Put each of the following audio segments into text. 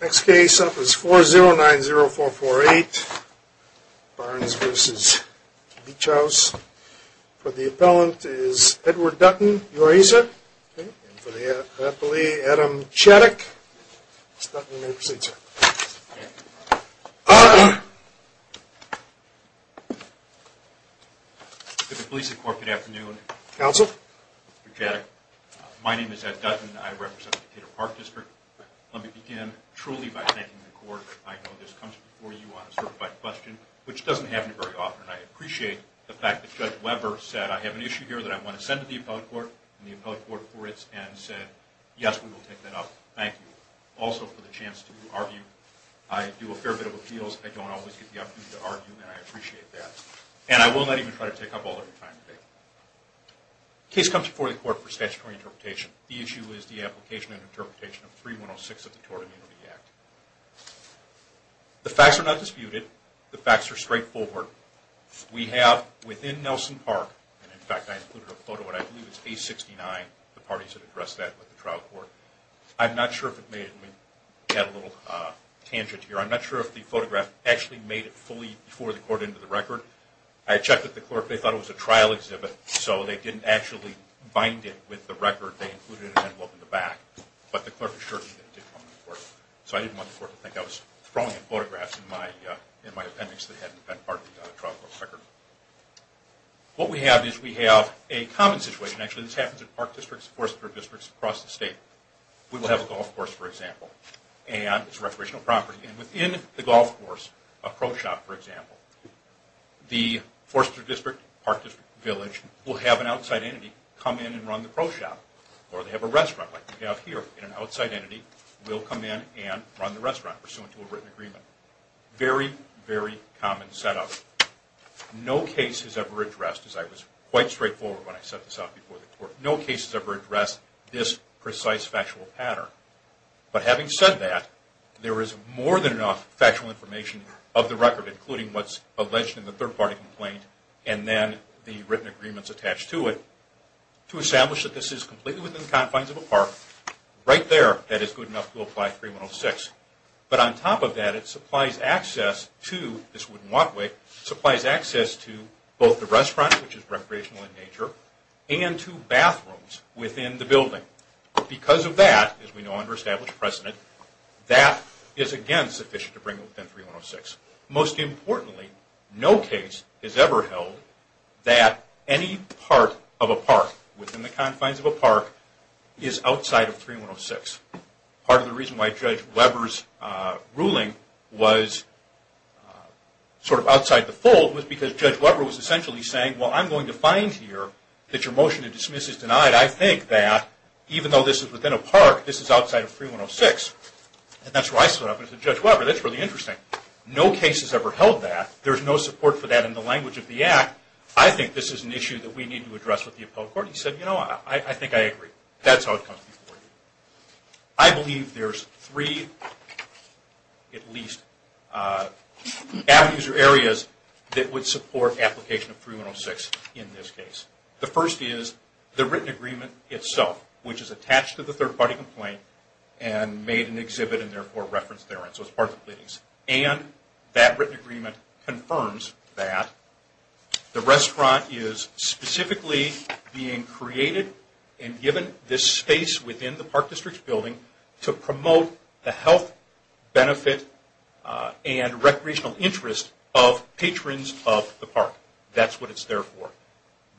Next case up is 4090448 Barnes v. Beach House. For the appellant is Edward Dutton, UASA. And for the appellee, Adam Chaddock. Mr. Dutton, you may proceed, sir. Good afternoon. Counsel. Mr. Chaddock, my name is Ed Dutton. I represent the Decatur Park District. Let me begin, truly, by thanking the court. I know this comes before you on a certified question, which doesn't happen very often. I appreciate the fact that Judge Weber said, I have an issue here that I want to send to the appellate court and the appellate court for it, and said, yes, we will take that up. Thank you. Also, for the chance to argue, I do a fair bit of appeals. I don't always get the opportunity to argue, and I appreciate that. And I will not even try to take up all of your time today. The case comes before the court for statutory interpretation. The issue is the application and interpretation of 3106 of the Tort Immunity Act. The facts are not disputed. The facts are straightforward. We have, within Nelson Park, and in fact I included a photo of it, I believe it's A69, the parties that addressed that with the trial court. I'm not sure if it made it, let me add a little tangent here, I'm not sure if the photograph actually made it fully before the court entered the record. I checked with the clerk. They thought it was a trial exhibit, so they didn't actually bind it with the record. They included an envelope in the back. But the clerk assured me that it did come to the court. So I didn't want the court to think I was throwing photographs in my appendix that hadn't been part of the trial court record. What we have is we have a common situation, actually. This happens in park districts, forestry districts across the state. We will have a golf course, for example, and it's recreational property. And within the golf course, a pro shop, for example, the forestry district, park district, village, will have an outside entity come in and run the pro shop. Or they have a restaurant, like we have here, and an outside entity will come in and run the restaurant, pursuant to a written agreement. Very, very common setup. No case has ever addressed, as I was quite straightforward when I set this up before the court, no case has ever addressed this precise factual pattern. But having said that, there is more than enough factual information of the record, including what's alleged in the third-party complaint, and then the written agreements attached to it, to establish that this is completely within the confines of a park, right there, that it's good enough to apply 3106. But on top of that, it supplies access to this wooden walkway, supplies access to both the restaurant, which is recreational in nature, and to bathrooms within the building. Because of that, as we know under established precedent, that is, again, sufficient to bring it within 3106. Most importantly, no case has ever held that any part of a park within the confines of a park is outside of 3106. Part of the reason why Judge Weber's ruling was sort of outside the fold was because Judge Weber was essentially saying, well, I'm going to find here that your motion to dismiss is denied. I think that even though this is within a park, this is outside of 3106. And that's where I stood up and said, Judge Weber, that's really interesting. No case has ever held that. There's no support for that in the language of the Act. I think this is an issue that we need to address with the appellate court. He said, you know, I think I agree. That's how it comes before you. I believe there's three, at least, avenues or areas that would support application of 3106 in this case. The first is the written agreement itself, which is attached to the third-party complaint and made an exhibit and therefore referenced therein. So it's part of the pleadings. And that written agreement confirms that the restaurant is specifically being created and given this space within the Park District's building to promote the health, That's what it's there for.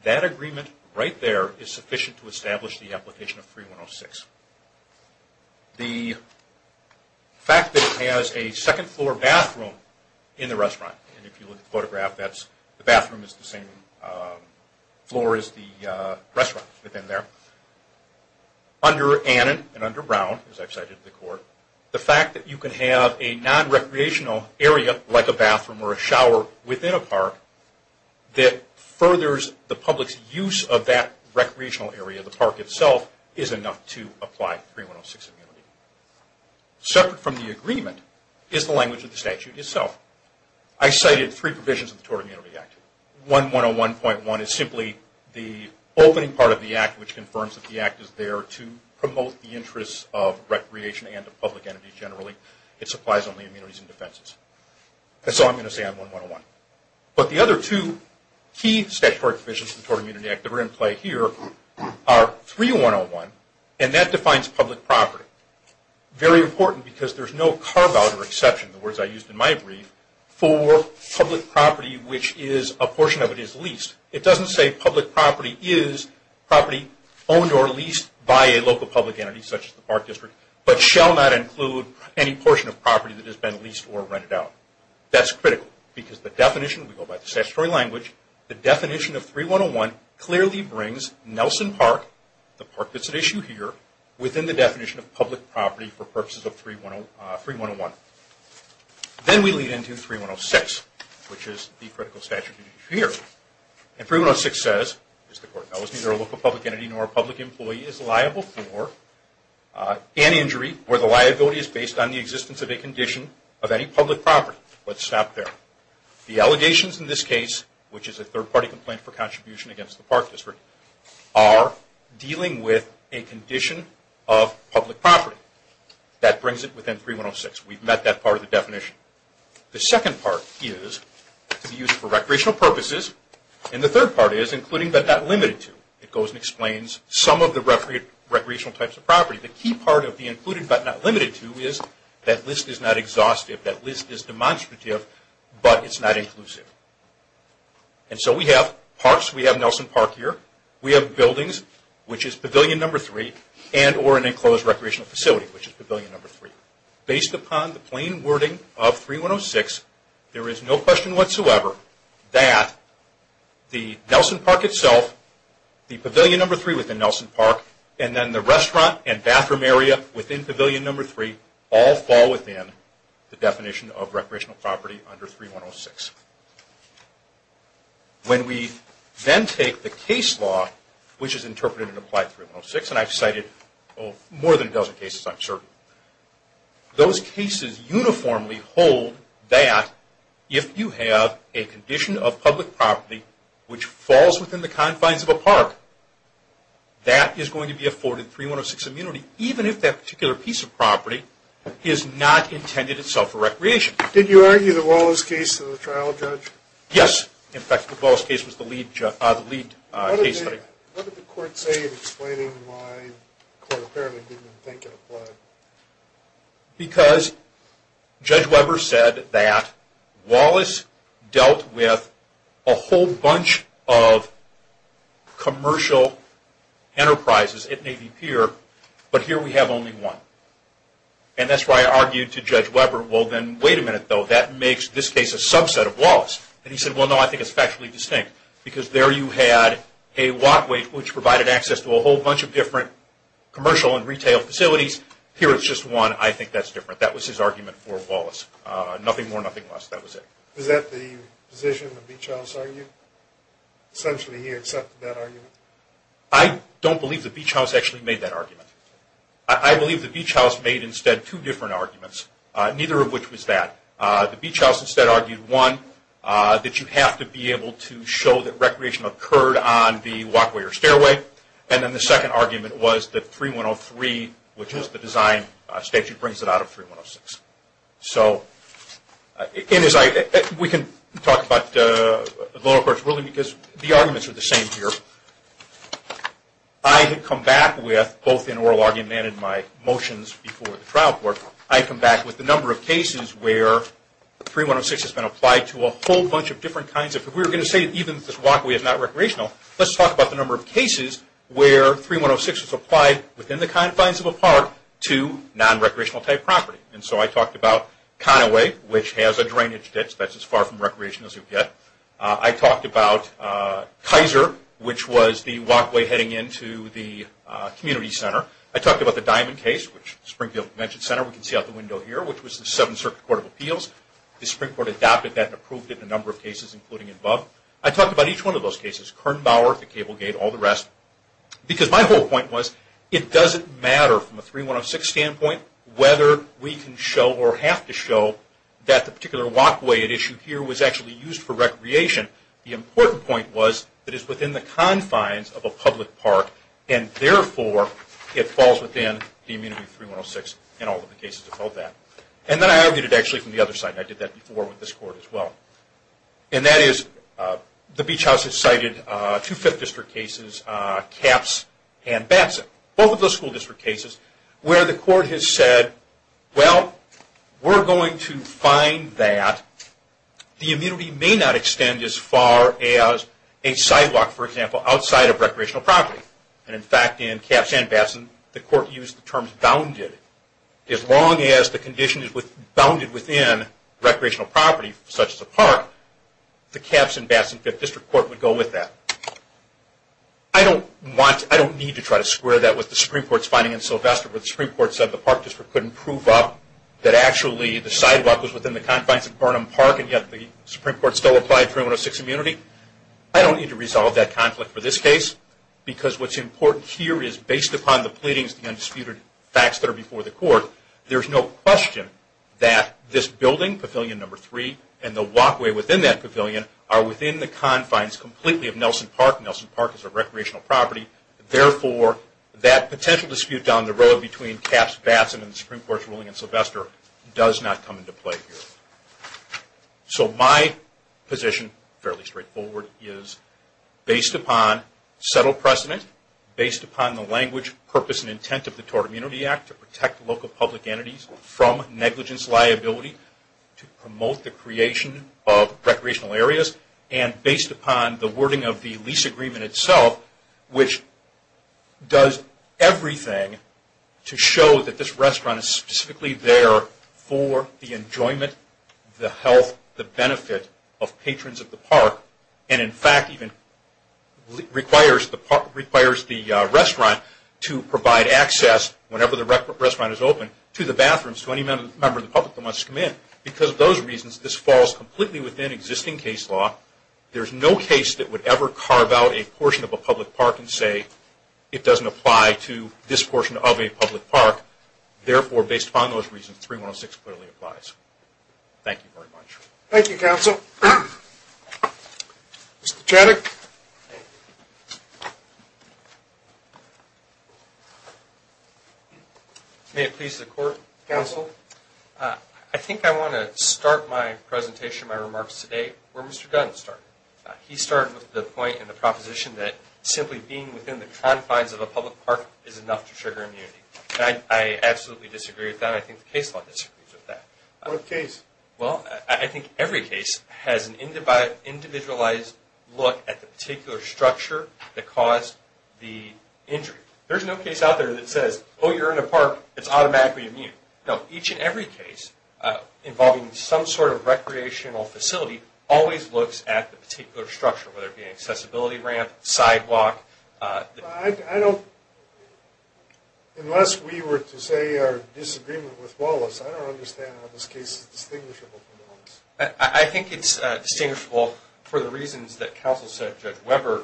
That agreement right there is sufficient to establish the application of 3106. The fact that it has a second-floor bathroom in the restaurant, and if you look at the photograph, the bathroom is the same floor as the restaurant within there. Under Annan and under Brown, as I've cited to the court, the fact that you can have a non-recreational area, like a bathroom or a shower within a park, that furthers the public's use of that recreational area, the park itself, is enough to apply 3106 immunity. Separate from the agreement is the language of the statute itself. I cited three provisions of the Tort Immunity Act. 1101.1 is simply the opening part of the act, which confirms that the act is there to promote the interests of recreation and of public energy generally. It supplies only immunities and defenses. That's all I'm going to say on 1101. But the other two key statutory provisions of the Tort Immunity Act that are in play here are 3101, and that defines public property. Very important because there's no carve-out or exception, the words I used in my brief, for public property which is a portion of it is leased. It doesn't say public property is property owned or leased by a local public entity, such as the park district, but shall not include any portion of property that has been leased or rented out. That's critical because the definition, we go by the statutory language, the definition of 3101 clearly brings Nelson Park, the park that's at issue here, within the definition of public property for purposes of 3101. Then we lead into 3106, which is the critical statute here. And 3106 says, as the court knows, neither a local public entity nor a public employee is liable for an injury where the liability is based on the existence of a condition of any public property. Let's stop there. The allegations in this case, which is a third-party complaint for contribution against the park district, are dealing with a condition of public property. That brings it within 3106. We've met that part of the definition. The second part is to be used for recreational purposes, and the third part is including but not limited to. It goes and explains some of the recreational types of property. The key part of the included but not limited to is that list is not exhaustive. That list is demonstrative, but it's not inclusive. And so we have parks. We have Nelson Park here. We have buildings, which is pavilion number three, and or an enclosed recreational facility, which is pavilion number three. Based upon the plain wording of 3106, there is no question whatsoever that the Nelson Park itself, the pavilion number three within Nelson Park, and then the restaurant and bathroom area within pavilion number three all fall within the definition of recreational property under 3106. When we then take the case law, which is interpreted and applied in 3106, and I've cited more than a dozen cases, I'm certain, those cases uniformly hold that if you have a condition of public property which falls within the confines of a park, that is going to be afforded 3106 immunity, even if that particular piece of property is not intended itself for recreation. Did you argue the Wallace case in the trial, Judge? Yes. In fact, the Wallace case was the lead case study. What did the court say in explaining why the court apparently didn't think it applied? Because Judge Weber said that Wallace dealt with a whole bunch of commercial enterprises at Navy Pier, but here we have only one. And that's why I argued to Judge Weber, well then, wait a minute though, that makes this case a subset of Wallace. And he said, well no, I think it's factually distinct, because there you had a lot which provided access to a whole bunch of different commercial and retail facilities. Here it's just one. I think that's different. That was his argument for Wallace. Nothing more, nothing less. That was it. Is that the position the Beach House argued? Essentially he accepted that argument? I don't believe the Beach House actually made that argument. I believe the Beach House made instead two different arguments, neither of which was that. The Beach House instead argued, one, that you have to be able to show that recreation occurred on the walkway or stairway, and then the second argument was that 3103, which is the design statute, brings it out of 3106. So we can talk about the lower court's ruling because the arguments are the same here. I had come back with, both in oral argument and in my motions before the trial court, I had come back with the number of cases where 3106 has been applied to a whole bunch of different kinds. If we were going to say even if this walkway is not recreational, let's talk about the number of cases where 3106 is applied within the confines of a park to non-recreational type property. So I talked about Conaway, which has a drainage ditch that's as far from recreation as you get. I talked about Kaiser, which was the walkway heading into the community center. I talked about the Diamond Case, which Springfield Convention Center, we can see out the window here, which was the Seventh Circuit Court of Appeals. The Supreme Court adopted that and approved it in a number of cases, including above. I talked about each one of those cases, Kern Bower, the Cable Gate, all the rest, because my whole point was it doesn't matter from a 3106 standpoint whether we can show or have to show that the particular walkway at issue here was actually used for recreation. The important point was it is within the confines of a public park, and therefore it falls within the immunity of 3106 in all of the cases about that. And then I argued it actually from the other side, and I did that before with this court as well. And that is the Beach House has cited two 5th District cases, Capps and Batson, both of those school district cases, where the court has said, well, we're going to find that the immunity may not extend as far as a sidewalk, for example, outside of recreational property. And, in fact, in Capps and Batson, the court used the term bounded. As long as the condition is bounded within recreational property, such as a park, the Capps and Batson 5th District Court would go with that. I don't need to try to square that with the Supreme Court's finding in Sylvester, where the Supreme Court said the park district couldn't prove up that actually the sidewalk was within the confines of Burnham Park, and yet the Supreme Court still applied 3106 immunity. I don't need to resolve that conflict for this case, because what's important here is, based upon the pleadings, the undisputed facts that are before the court, there's no question that this building, Pavilion Number 3, and the walkway within that pavilion are within the confines completely of Nelson Park. Nelson Park is a recreational property. Therefore, that potential dispute down the road between Capps, Batson, and the Supreme Court's ruling in Sylvester does not come into play here. So my position, fairly straightforward, is based upon settled precedent, based upon the language, purpose, and intent of the Tort Immunity Act to protect local public entities from negligence liability, to promote the creation of recreational areas, and based upon the wording of the lease agreement itself, which does everything to show that this restaurant is specifically there for the health, the benefit of patrons of the park, and, in fact, even requires the restaurant to provide access whenever the restaurant is open to the bathrooms to any member of the public that wants to come in. Because of those reasons, this falls completely within existing case law. There's no case that would ever carve out a portion of a public park and say, it doesn't apply to this portion of a public park. Therefore, based upon those reasons, 3106 clearly applies. Thank you very much. Thank you, Counsel. Mr. Chaddick. May it please the Court. Counsel. I think I want to start my presentation, my remarks today where Mr. Dunn started. He started with the point and the proposition that simply being within the confines of a public park is enough to trigger immunity. I absolutely disagree with that. I think the case law disagrees with that. What case? Well, I think every case has an individualized look at the particular structure that caused the injury. There's no case out there that says, oh, you're in a park, it's automatically immune. No. Each and every case involving some sort of recreational facility always looks at the particular structure, whether it be an accessibility ramp, sidewalk. I don't, unless we were to say our disagreement with Wallace, I don't understand how this case is distinguishable from Wallace. I think it's distinguishable for the reasons that Counsel said Judge Weber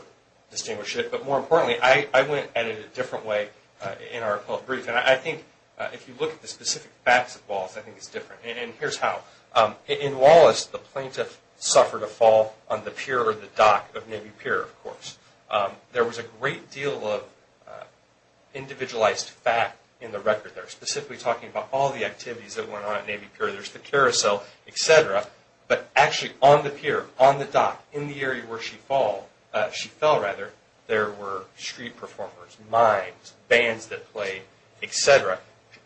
distinguished it. But more importantly, I went at it a different way in our brief. And I think if you look at the specific facts of Wallace, I think it's different. And here's how. In Wallace, the plaintiff suffered a fall on the pier or the dock of Navy Pier, of course. There was a great deal of individualized fact in the record there, specifically talking about all the activities that went on at Navy Pier. There's the carousel, et cetera. But actually on the pier, on the dock, in the area where she fell, there were street performers, mimes, bands that played, et cetera.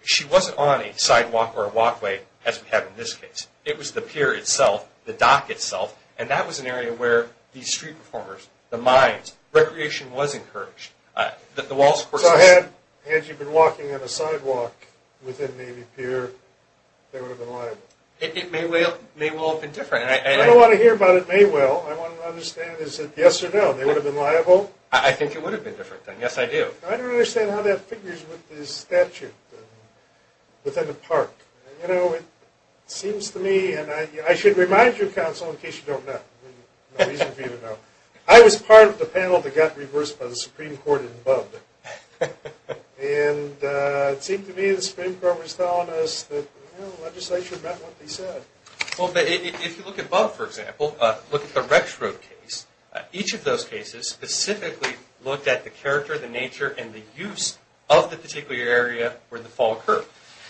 She wasn't on a sidewalk or a walkway as we have in this case. It was the pier itself, the dock itself, and that was an area where these street performers, the mimes, recreation was encouraged. So had Angie been walking on a sidewalk within Navy Pier, they would have been liable. It may well have been different. I don't want to hear about it may well. I want to understand is it yes or no. They would have been liable? I think it would have been different. Yes, I do. I don't understand how that figures with the statute within the park. You know, it seems to me, and I should remind you, Counsel, in case you don't know. I was part of the panel that got reversed by the Supreme Court in Bubb. And it seemed to me the Supreme Court was telling us that, you know, legislation meant what they said. Well, if you look at Bubb, for example, look at the Rex Road case. Each of those cases specifically looked at the character, the nature, and the use of the particular area where the fall occurred.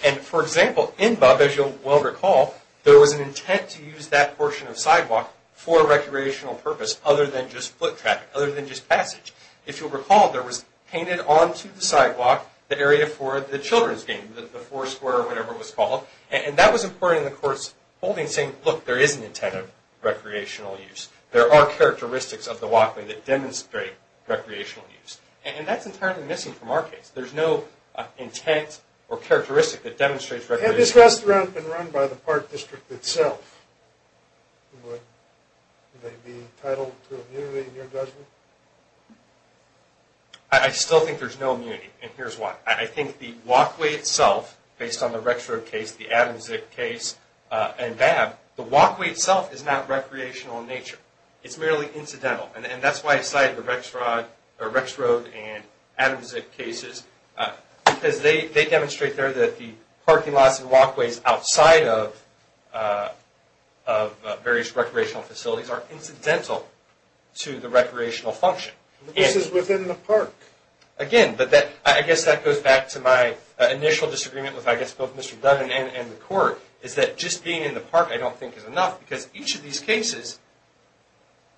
And, for example, in Bubb, as you'll well recall, there was an intent to use that portion of sidewalk for recreational purpose other than just foot traffic, other than just passage. If you'll recall, there was painted onto the sidewalk the area for the children's game, the four square or whatever it was called. And that was important in the court's holding saying, look, there is an intent of recreational use. There are characteristics of the walkway that demonstrate recreational use. And that's entirely missing from our case. There's no intent or characteristic that demonstrates recreational use. Had this restaurant been run by the Park District itself, would they be entitled to immunity in your judgment? I still think there's no immunity, and here's why. I think the walkway itself, based on the Rex Road case, the Adams-Zick case, and Bubb, the walkway itself is not recreational in nature. It's merely incidental. And that's why I cited the Rex Road and Adams-Zick cases, because they demonstrate there that the parking lots and walkways outside of various recreational facilities are incidental to the recreational function. This is within the park. Again, I guess that goes back to my initial disagreement with, I guess, both Mr. Dunn and the court, is that just being in the park I don't think is enough, because each of these cases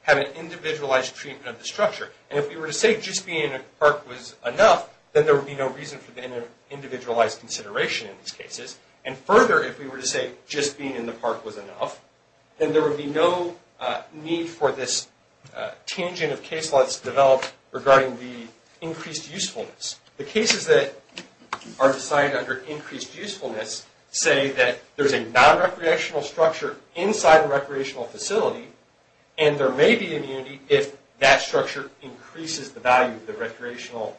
have an individualized treatment of the structure. And if we were to say just being in the park was enough, then there would be no reason for the individualized consideration in these cases. And further, if we were to say just being in the park was enough, then there would be no need for this tangent of case laws to develop regarding the increased usefulness. The cases that are decided under increased usefulness say that there's a nonrecreational structure inside a recreational facility, and there may be immunity if that structure increases the value of the recreational...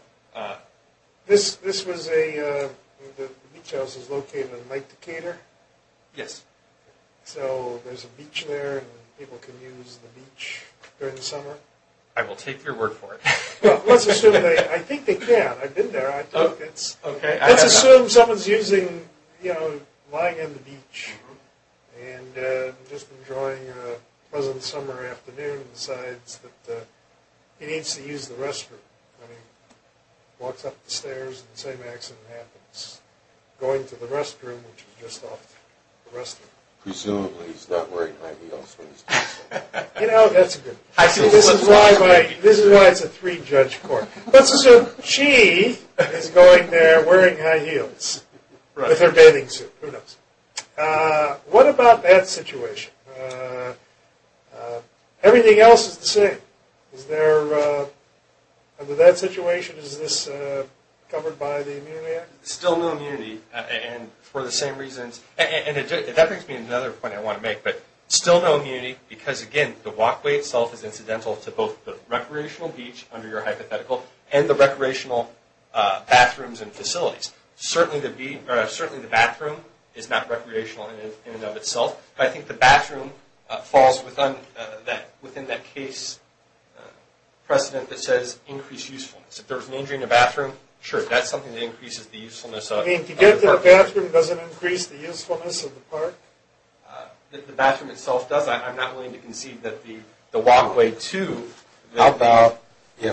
This was a... the beach house is located in Lake Decatur? Yes. So there's a beach there, and people can use the beach during the summer? I will take your word for it. Well, let's assume they... I think they can. I've been there. Let's assume someone's using, you know, lying on the beach and just enjoying a pleasant summer afternoon and decides that he needs to use the restroom. I mean, walks up the stairs and the same accident happens. Going to the restroom, which is just off the restroom. Presumably he's not wearing high heels when he's doing so. You know, that's a good... This is why it's a three-judge court. Let's assume she is going there wearing high heels with her bathing suit. Who knows? What about that situation? Everything else is the same. Is there... under that situation, is this covered by the Immunity Act? Still no immunity, and for the same reasons... And that brings me to another point I want to make, but still no immunity because, again, the walkway itself is incidental to both the recreational beach, under your hypothetical, and the recreational bathrooms and facilities. Certainly the bathroom is not recreational in and of itself, but I think the bathroom falls within that case precedent that says increase usefulness. If there was an injury in the bathroom, sure, that's something that increases the usefulness of the park. You mean to get to the bathroom doesn't increase the usefulness of the park? The bathroom itself does. I'm not willing to concede that the walkway, too... The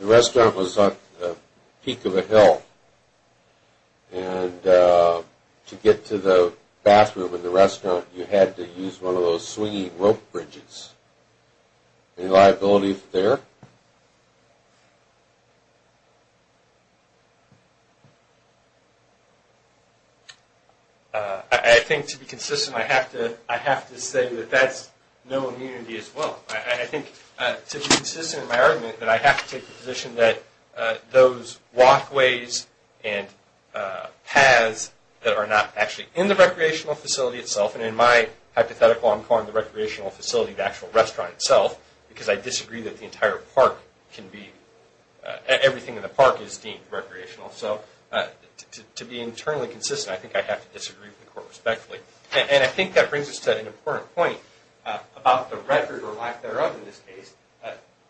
restaurant was on the peak of a hill, and to get to the bathroom in the restaurant you had to use one of those swinging rope bridges. Any liability there? I think, to be consistent, I have to say that that's no immunity as well. I think, to be consistent in my argument, that I have to take the position that those walkways and paths that are not actually in the recreational facility itself, and in my hypothetical I'm calling the recreational facility the actual restaurant itself because I disagree that the entire park can be... Everything in the park is deemed recreational. To be internally consistent, I think I have to disagree with the court respectfully. I think that brings us to an important point about the record or lack thereof in this case.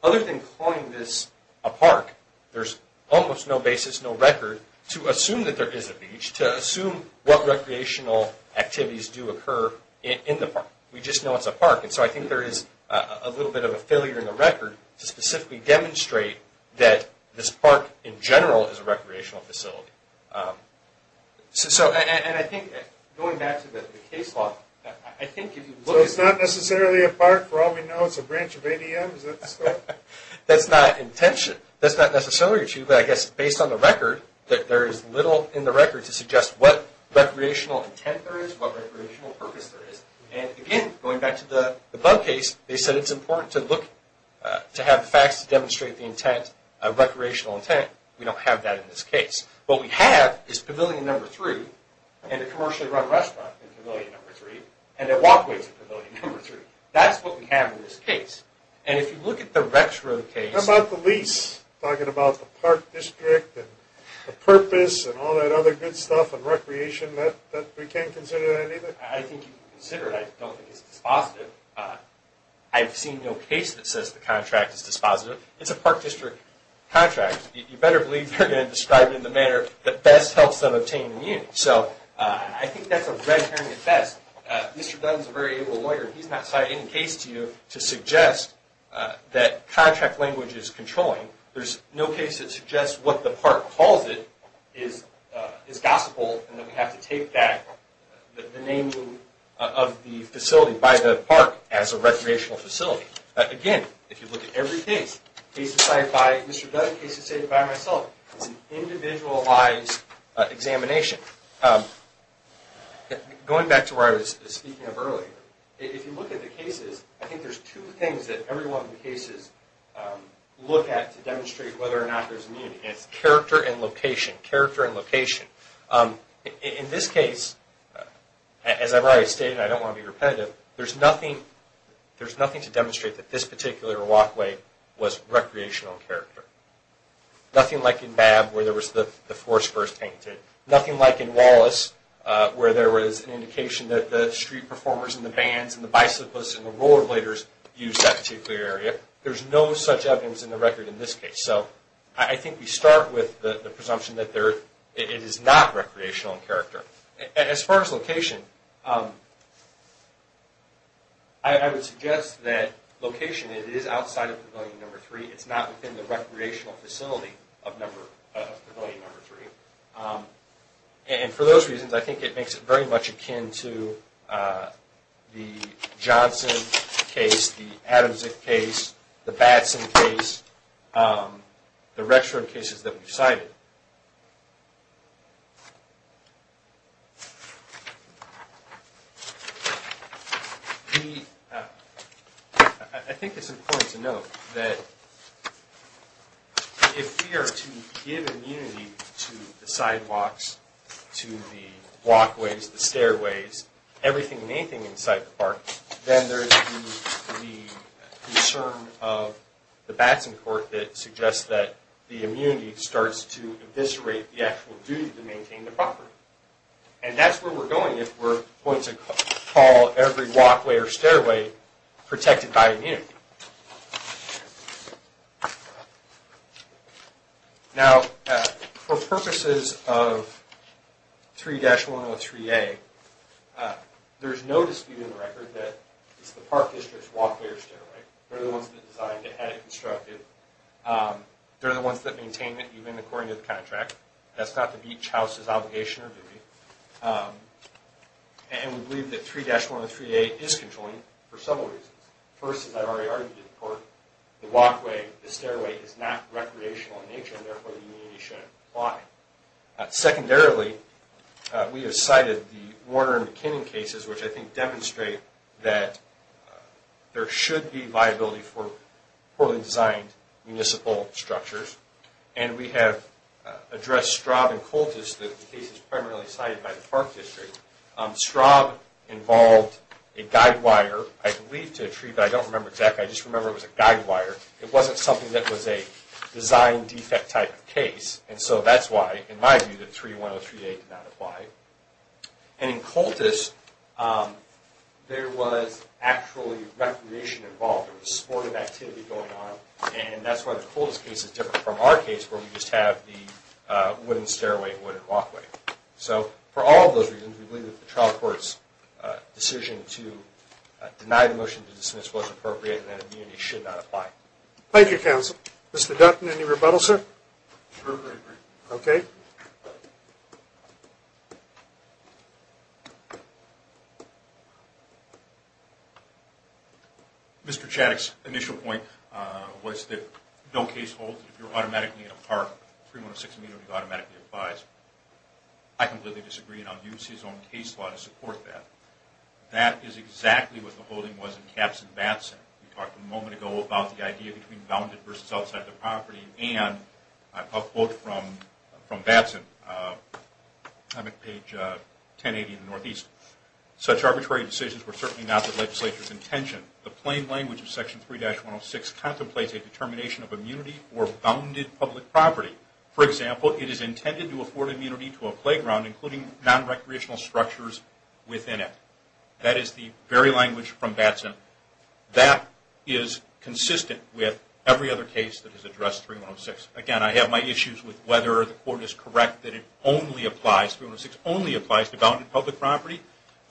Other than calling this a park, there's almost no basis, no record, to assume that there is a beach, to assume what recreational activities do occur in the park. We just know it's a park, and so I think there is a little bit of a failure in the record to specifically demonstrate that this park in general is a recreational facility. And I think, going back to the case law, I think if you look at... So it's not necessarily a park? For all we know it's a branch of ADM? Is that the scope? That's not intention. That's not necessarily true, but I guess based on the record, that there is little in the record to suggest what recreational intent there is, what recreational purpose there is. And again, going back to the bug case, they said it's important to have facts to demonstrate the intent, recreational intent. We don't have that in this case. What we have is pavilion number three and a commercially run restaurant in pavilion number three and a walkway to pavilion number three. That's what we have in this case. And if you look at the retro case... How about the lease? Talking about the park district and the purpose and all that other good stuff and recreation, we can't consider that either? I think you can consider it. I don't think it's dispositive. I've seen no case that says the contract is dispositive. It's a park district contract. You better believe they're going to describe it in the manner that best helps them obtain a unit. So I think that's a red herring at best. Mr. Dunn is a very able lawyer. He's not citing a case to you to suggest that contract language is controlling. There's no case that suggests what the park calls it is gospel and that we have to take the naming of the facility by the park as a recreational facility. Again, if you look at every case, cases cited by Mr. Dunn, cases cited by myself, it's an individualized examination. Going back to where I was speaking of earlier, if you look at the cases, I think there's two things that every one of the cases look at to demonstrate whether or not there's a unit. It's character and location, character and location. In this case, as I've already stated and I don't want to be repetitive, there's nothing to demonstrate that this particular walkway was recreational in character. Nothing like in Babb where there was the forest first painted. Nothing like in Wallace where there was an indication that the street performers and the bands and the bicyclists and the rollerbladers used that particular area. There's no such evidence in the record in this case. I think we start with the presumption that it is not recreational in character. As far as location, I would suggest that location, it is outside of Pavilion Number 3. It's not within the recreational facility of Pavilion Number 3. For those reasons, I think it makes it very much akin to the Johnson case, the Adamczyk case, the Batson case, the Rexford cases that we've cited. I think it's important to note that if we are to give immunity to the sidewalks, to the walkways, the stairways, everything and anything inside the park, then there's the concern of the Batson Court that suggests that the immunity starts to eviscerate the actual duty to maintain the property. And that's where we're going if we're going to call every walkway or stairway protected by immunity. Now, for purposes of 3-103A, there's no dispute in the record that it's the park district's walkway or stairway. They're the ones that designed it, had it constructed. They're the ones that maintain it, even according to the contract. That's not the Beach House's obligation or duty. And we believe that 3-103A is controlling for several reasons. First, as I've already argued before, the walkway, the stairway is not recreational in nature, and therefore the immunity shouldn't apply. Secondarily, we have cited the Warner and McKinnon cases, which I think demonstrate that there should be viability for poorly designed municipal structures. And we have addressed Straub and Coltus, the cases primarily cited by the park district. Straub involved a guide wire, I believe, to a tree, but I don't remember exactly. I just remember it was a guide wire. It wasn't something that was a design defect type of case. And so that's why, in my view, that 3-103A did not apply. And in Coltus, there was actually recreation involved. There was sportive activity going on. And that's why the Coltus case is different from our case, where we just have the wooden stairway and wooden walkway. So for all of those reasons, we believe that the trial court's decision to deny the motion to dismiss was appropriate and that immunity should not apply. Thank you, counsel. Mr. Dutton, any rebuttal, sir? Okay. Mr. Chaddick's initial point was that no case holds. If you're automatically in a park, 3-106B would automatically be advised. I completely disagree, and I'll use his own case law to support that. That is exactly what the holding was in Caps and Batson. We talked a moment ago about the idea between bounded versus outside the property, and a quote from Batson, page 1080 in the Northeast. Such arbitrary decisions were certainly not the legislature's intention. The plain language of Section 3-106 contemplates a determination of immunity for bounded public property. For example, it is intended to afford immunity to a playground, including nonrecreational structures within it. That is the very language from Batson. That is consistent with every other case that has addressed 3-106. Again, I have my issues with whether the court is correct that it only applies, 3-106 only applies to bounded public property,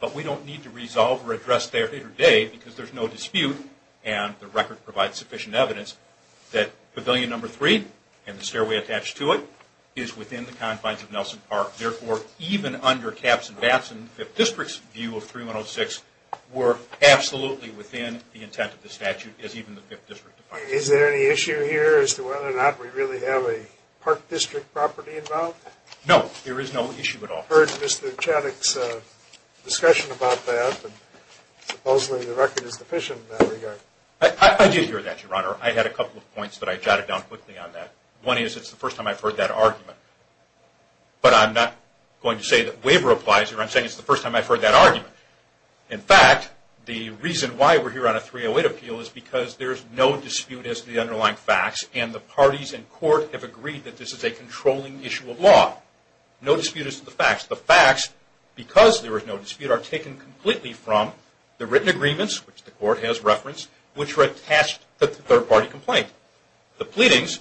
but we don't need to resolve or address that today because there's no dispute and the record provides sufficient evidence that Pavilion No. 3 and the stairway attached to it is within the confines of Nelson Park. Therefore, even under Caps and Batson, the 5th District's view of 3-106 were absolutely within the intent of the statute as even the 5th District defined it. Is there any issue here as to whether or not we really have a park district property involved? No, there is no issue at all. I've heard Mr. Chaddick's discussion about that, and supposedly the record is deficient in that regard. I did hear that, Your Honor. I had a couple of points, but I jotted down quickly on that. One is it's the first time I've heard that argument, but I'm not going to say that waiver applies here. I'm saying it's the first time I've heard that argument. In fact, the reason why we're here on a 308 appeal is because there's no dispute as to the underlying facts and the parties in court have agreed that this is a controlling issue of law. No dispute as to the facts. The facts, because there is no dispute, are taken completely from the written agreements, which the court has referenced, which were attached to the third-party complaint. The pleadings,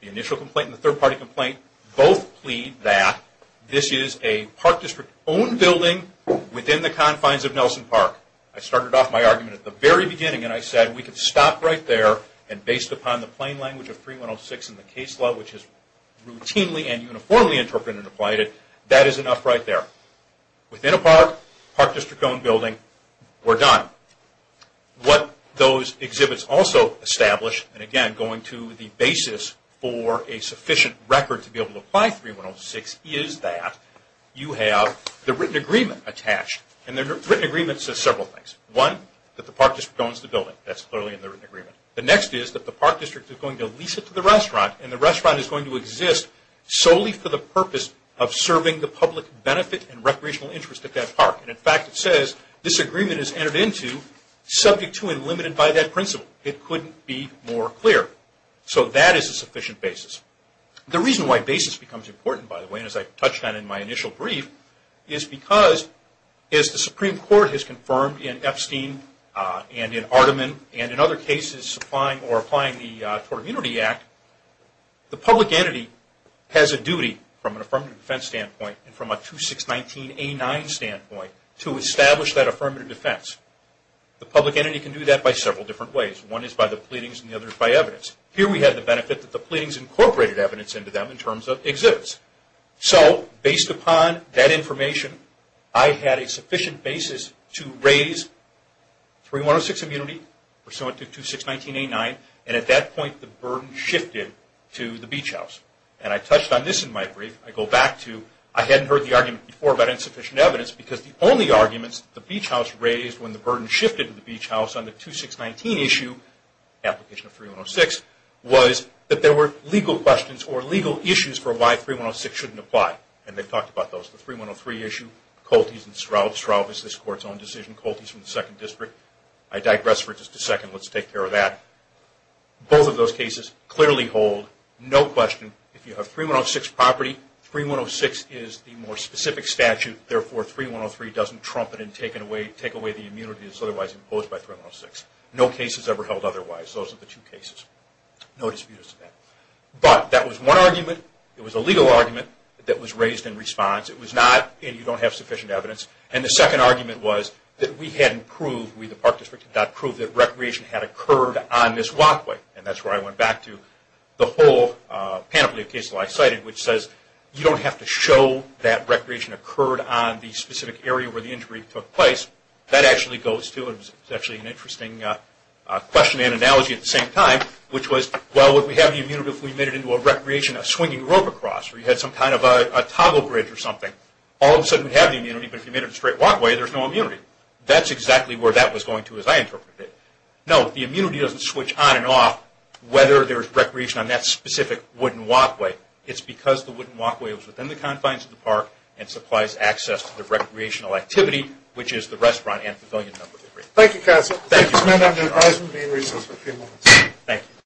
the initial complaint and the third-party complaint, both plead that this is a Park District-owned building within the confines of Nelson Park. I started off my argument at the very beginning, and I said we could stop right there, and based upon the plain language of 3106 in the case law, which is routinely and uniformly interpreted and applied, that is enough right there. Within a park, Park District-owned building, we're done. What those exhibits also establish, and again, going to the basis for a sufficient record to be able to apply 3106, is that you have the written agreement attached. The written agreement says several things. One, that the Park District owns the building. That's clearly in the written agreement. The next is that the Park District is going to lease it to the restaurant, and the restaurant is going to exist solely for the purpose of serving the public benefit and recreational interest at that park. In fact, it says this agreement is entered into subject to and limited by that principle. It couldn't be more clear. So that is a sufficient basis. The reason why basis becomes important, by the way, and as I touched on in my initial brief, is because as the Supreme Court has confirmed in Epstein and in Artiman and in other cases supplying or applying the Tort Immunity Act, the public entity has a duty from an affirmative defense standpoint and from a 2619A9 standpoint to establish that affirmative defense. The public entity can do that by several different ways. One is by the pleadings and the other is by evidence. Here we have the benefit that the pleadings incorporated evidence into them in terms of exhibits. So based upon that information, I had a sufficient basis to raise 3106 immunity, pursuant to 2619A9, and at that point the burden shifted to the Beach House. And I touched on this in my brief. I go back to I hadn't heard the argument before about insufficient evidence because the only arguments the Beach House raised when the burden shifted to the Beach House on the 2619 issue, application of 3106, was that there were legal questions or legal issues for why 3106 shouldn't apply, and they talked about those. The 3103 issue, Colties and Straub, Straub is this Court's own decision, Colties from the 2nd District. I digress for just a second. Let's take care of that. Both of those cases clearly hold no question. If you have 3106 property, 3106 is the more specific statute. Therefore, 3103 doesn't trump it and take away the immunity that's otherwise imposed by 3106. No case is ever held otherwise. Those are the two cases. No disputes to that. But that was one argument. It was a legal argument that was raised in response. It was not, and you don't have sufficient evidence. And the second argument was that we hadn't proved, we the Park District had not proved that recreation had occurred on this walkway. And that's where I went back to the whole panoply of cases that I cited, which says you don't have to show that recreation occurred on the specific area where the injury took place. That actually goes to, and it's actually an interesting question and analogy at the same time, which was, well, would we have the immunity if we made it into a recreation, a swinging rope across, or you had some kind of a toggle bridge or something. All of a sudden, we have the immunity, but if you made it a straight walkway, there's no immunity. That's exactly where that was going to as I interpreted it. No, the immunity doesn't switch on and off whether there's recreation on that specific wooden walkway. It's because the wooden walkway was within the confines of the park and supplies access to the recreational activity, which is the restaurant and pavilion number three. Thank you, counsel. Thank you. This meeting is adjourned. Thank you.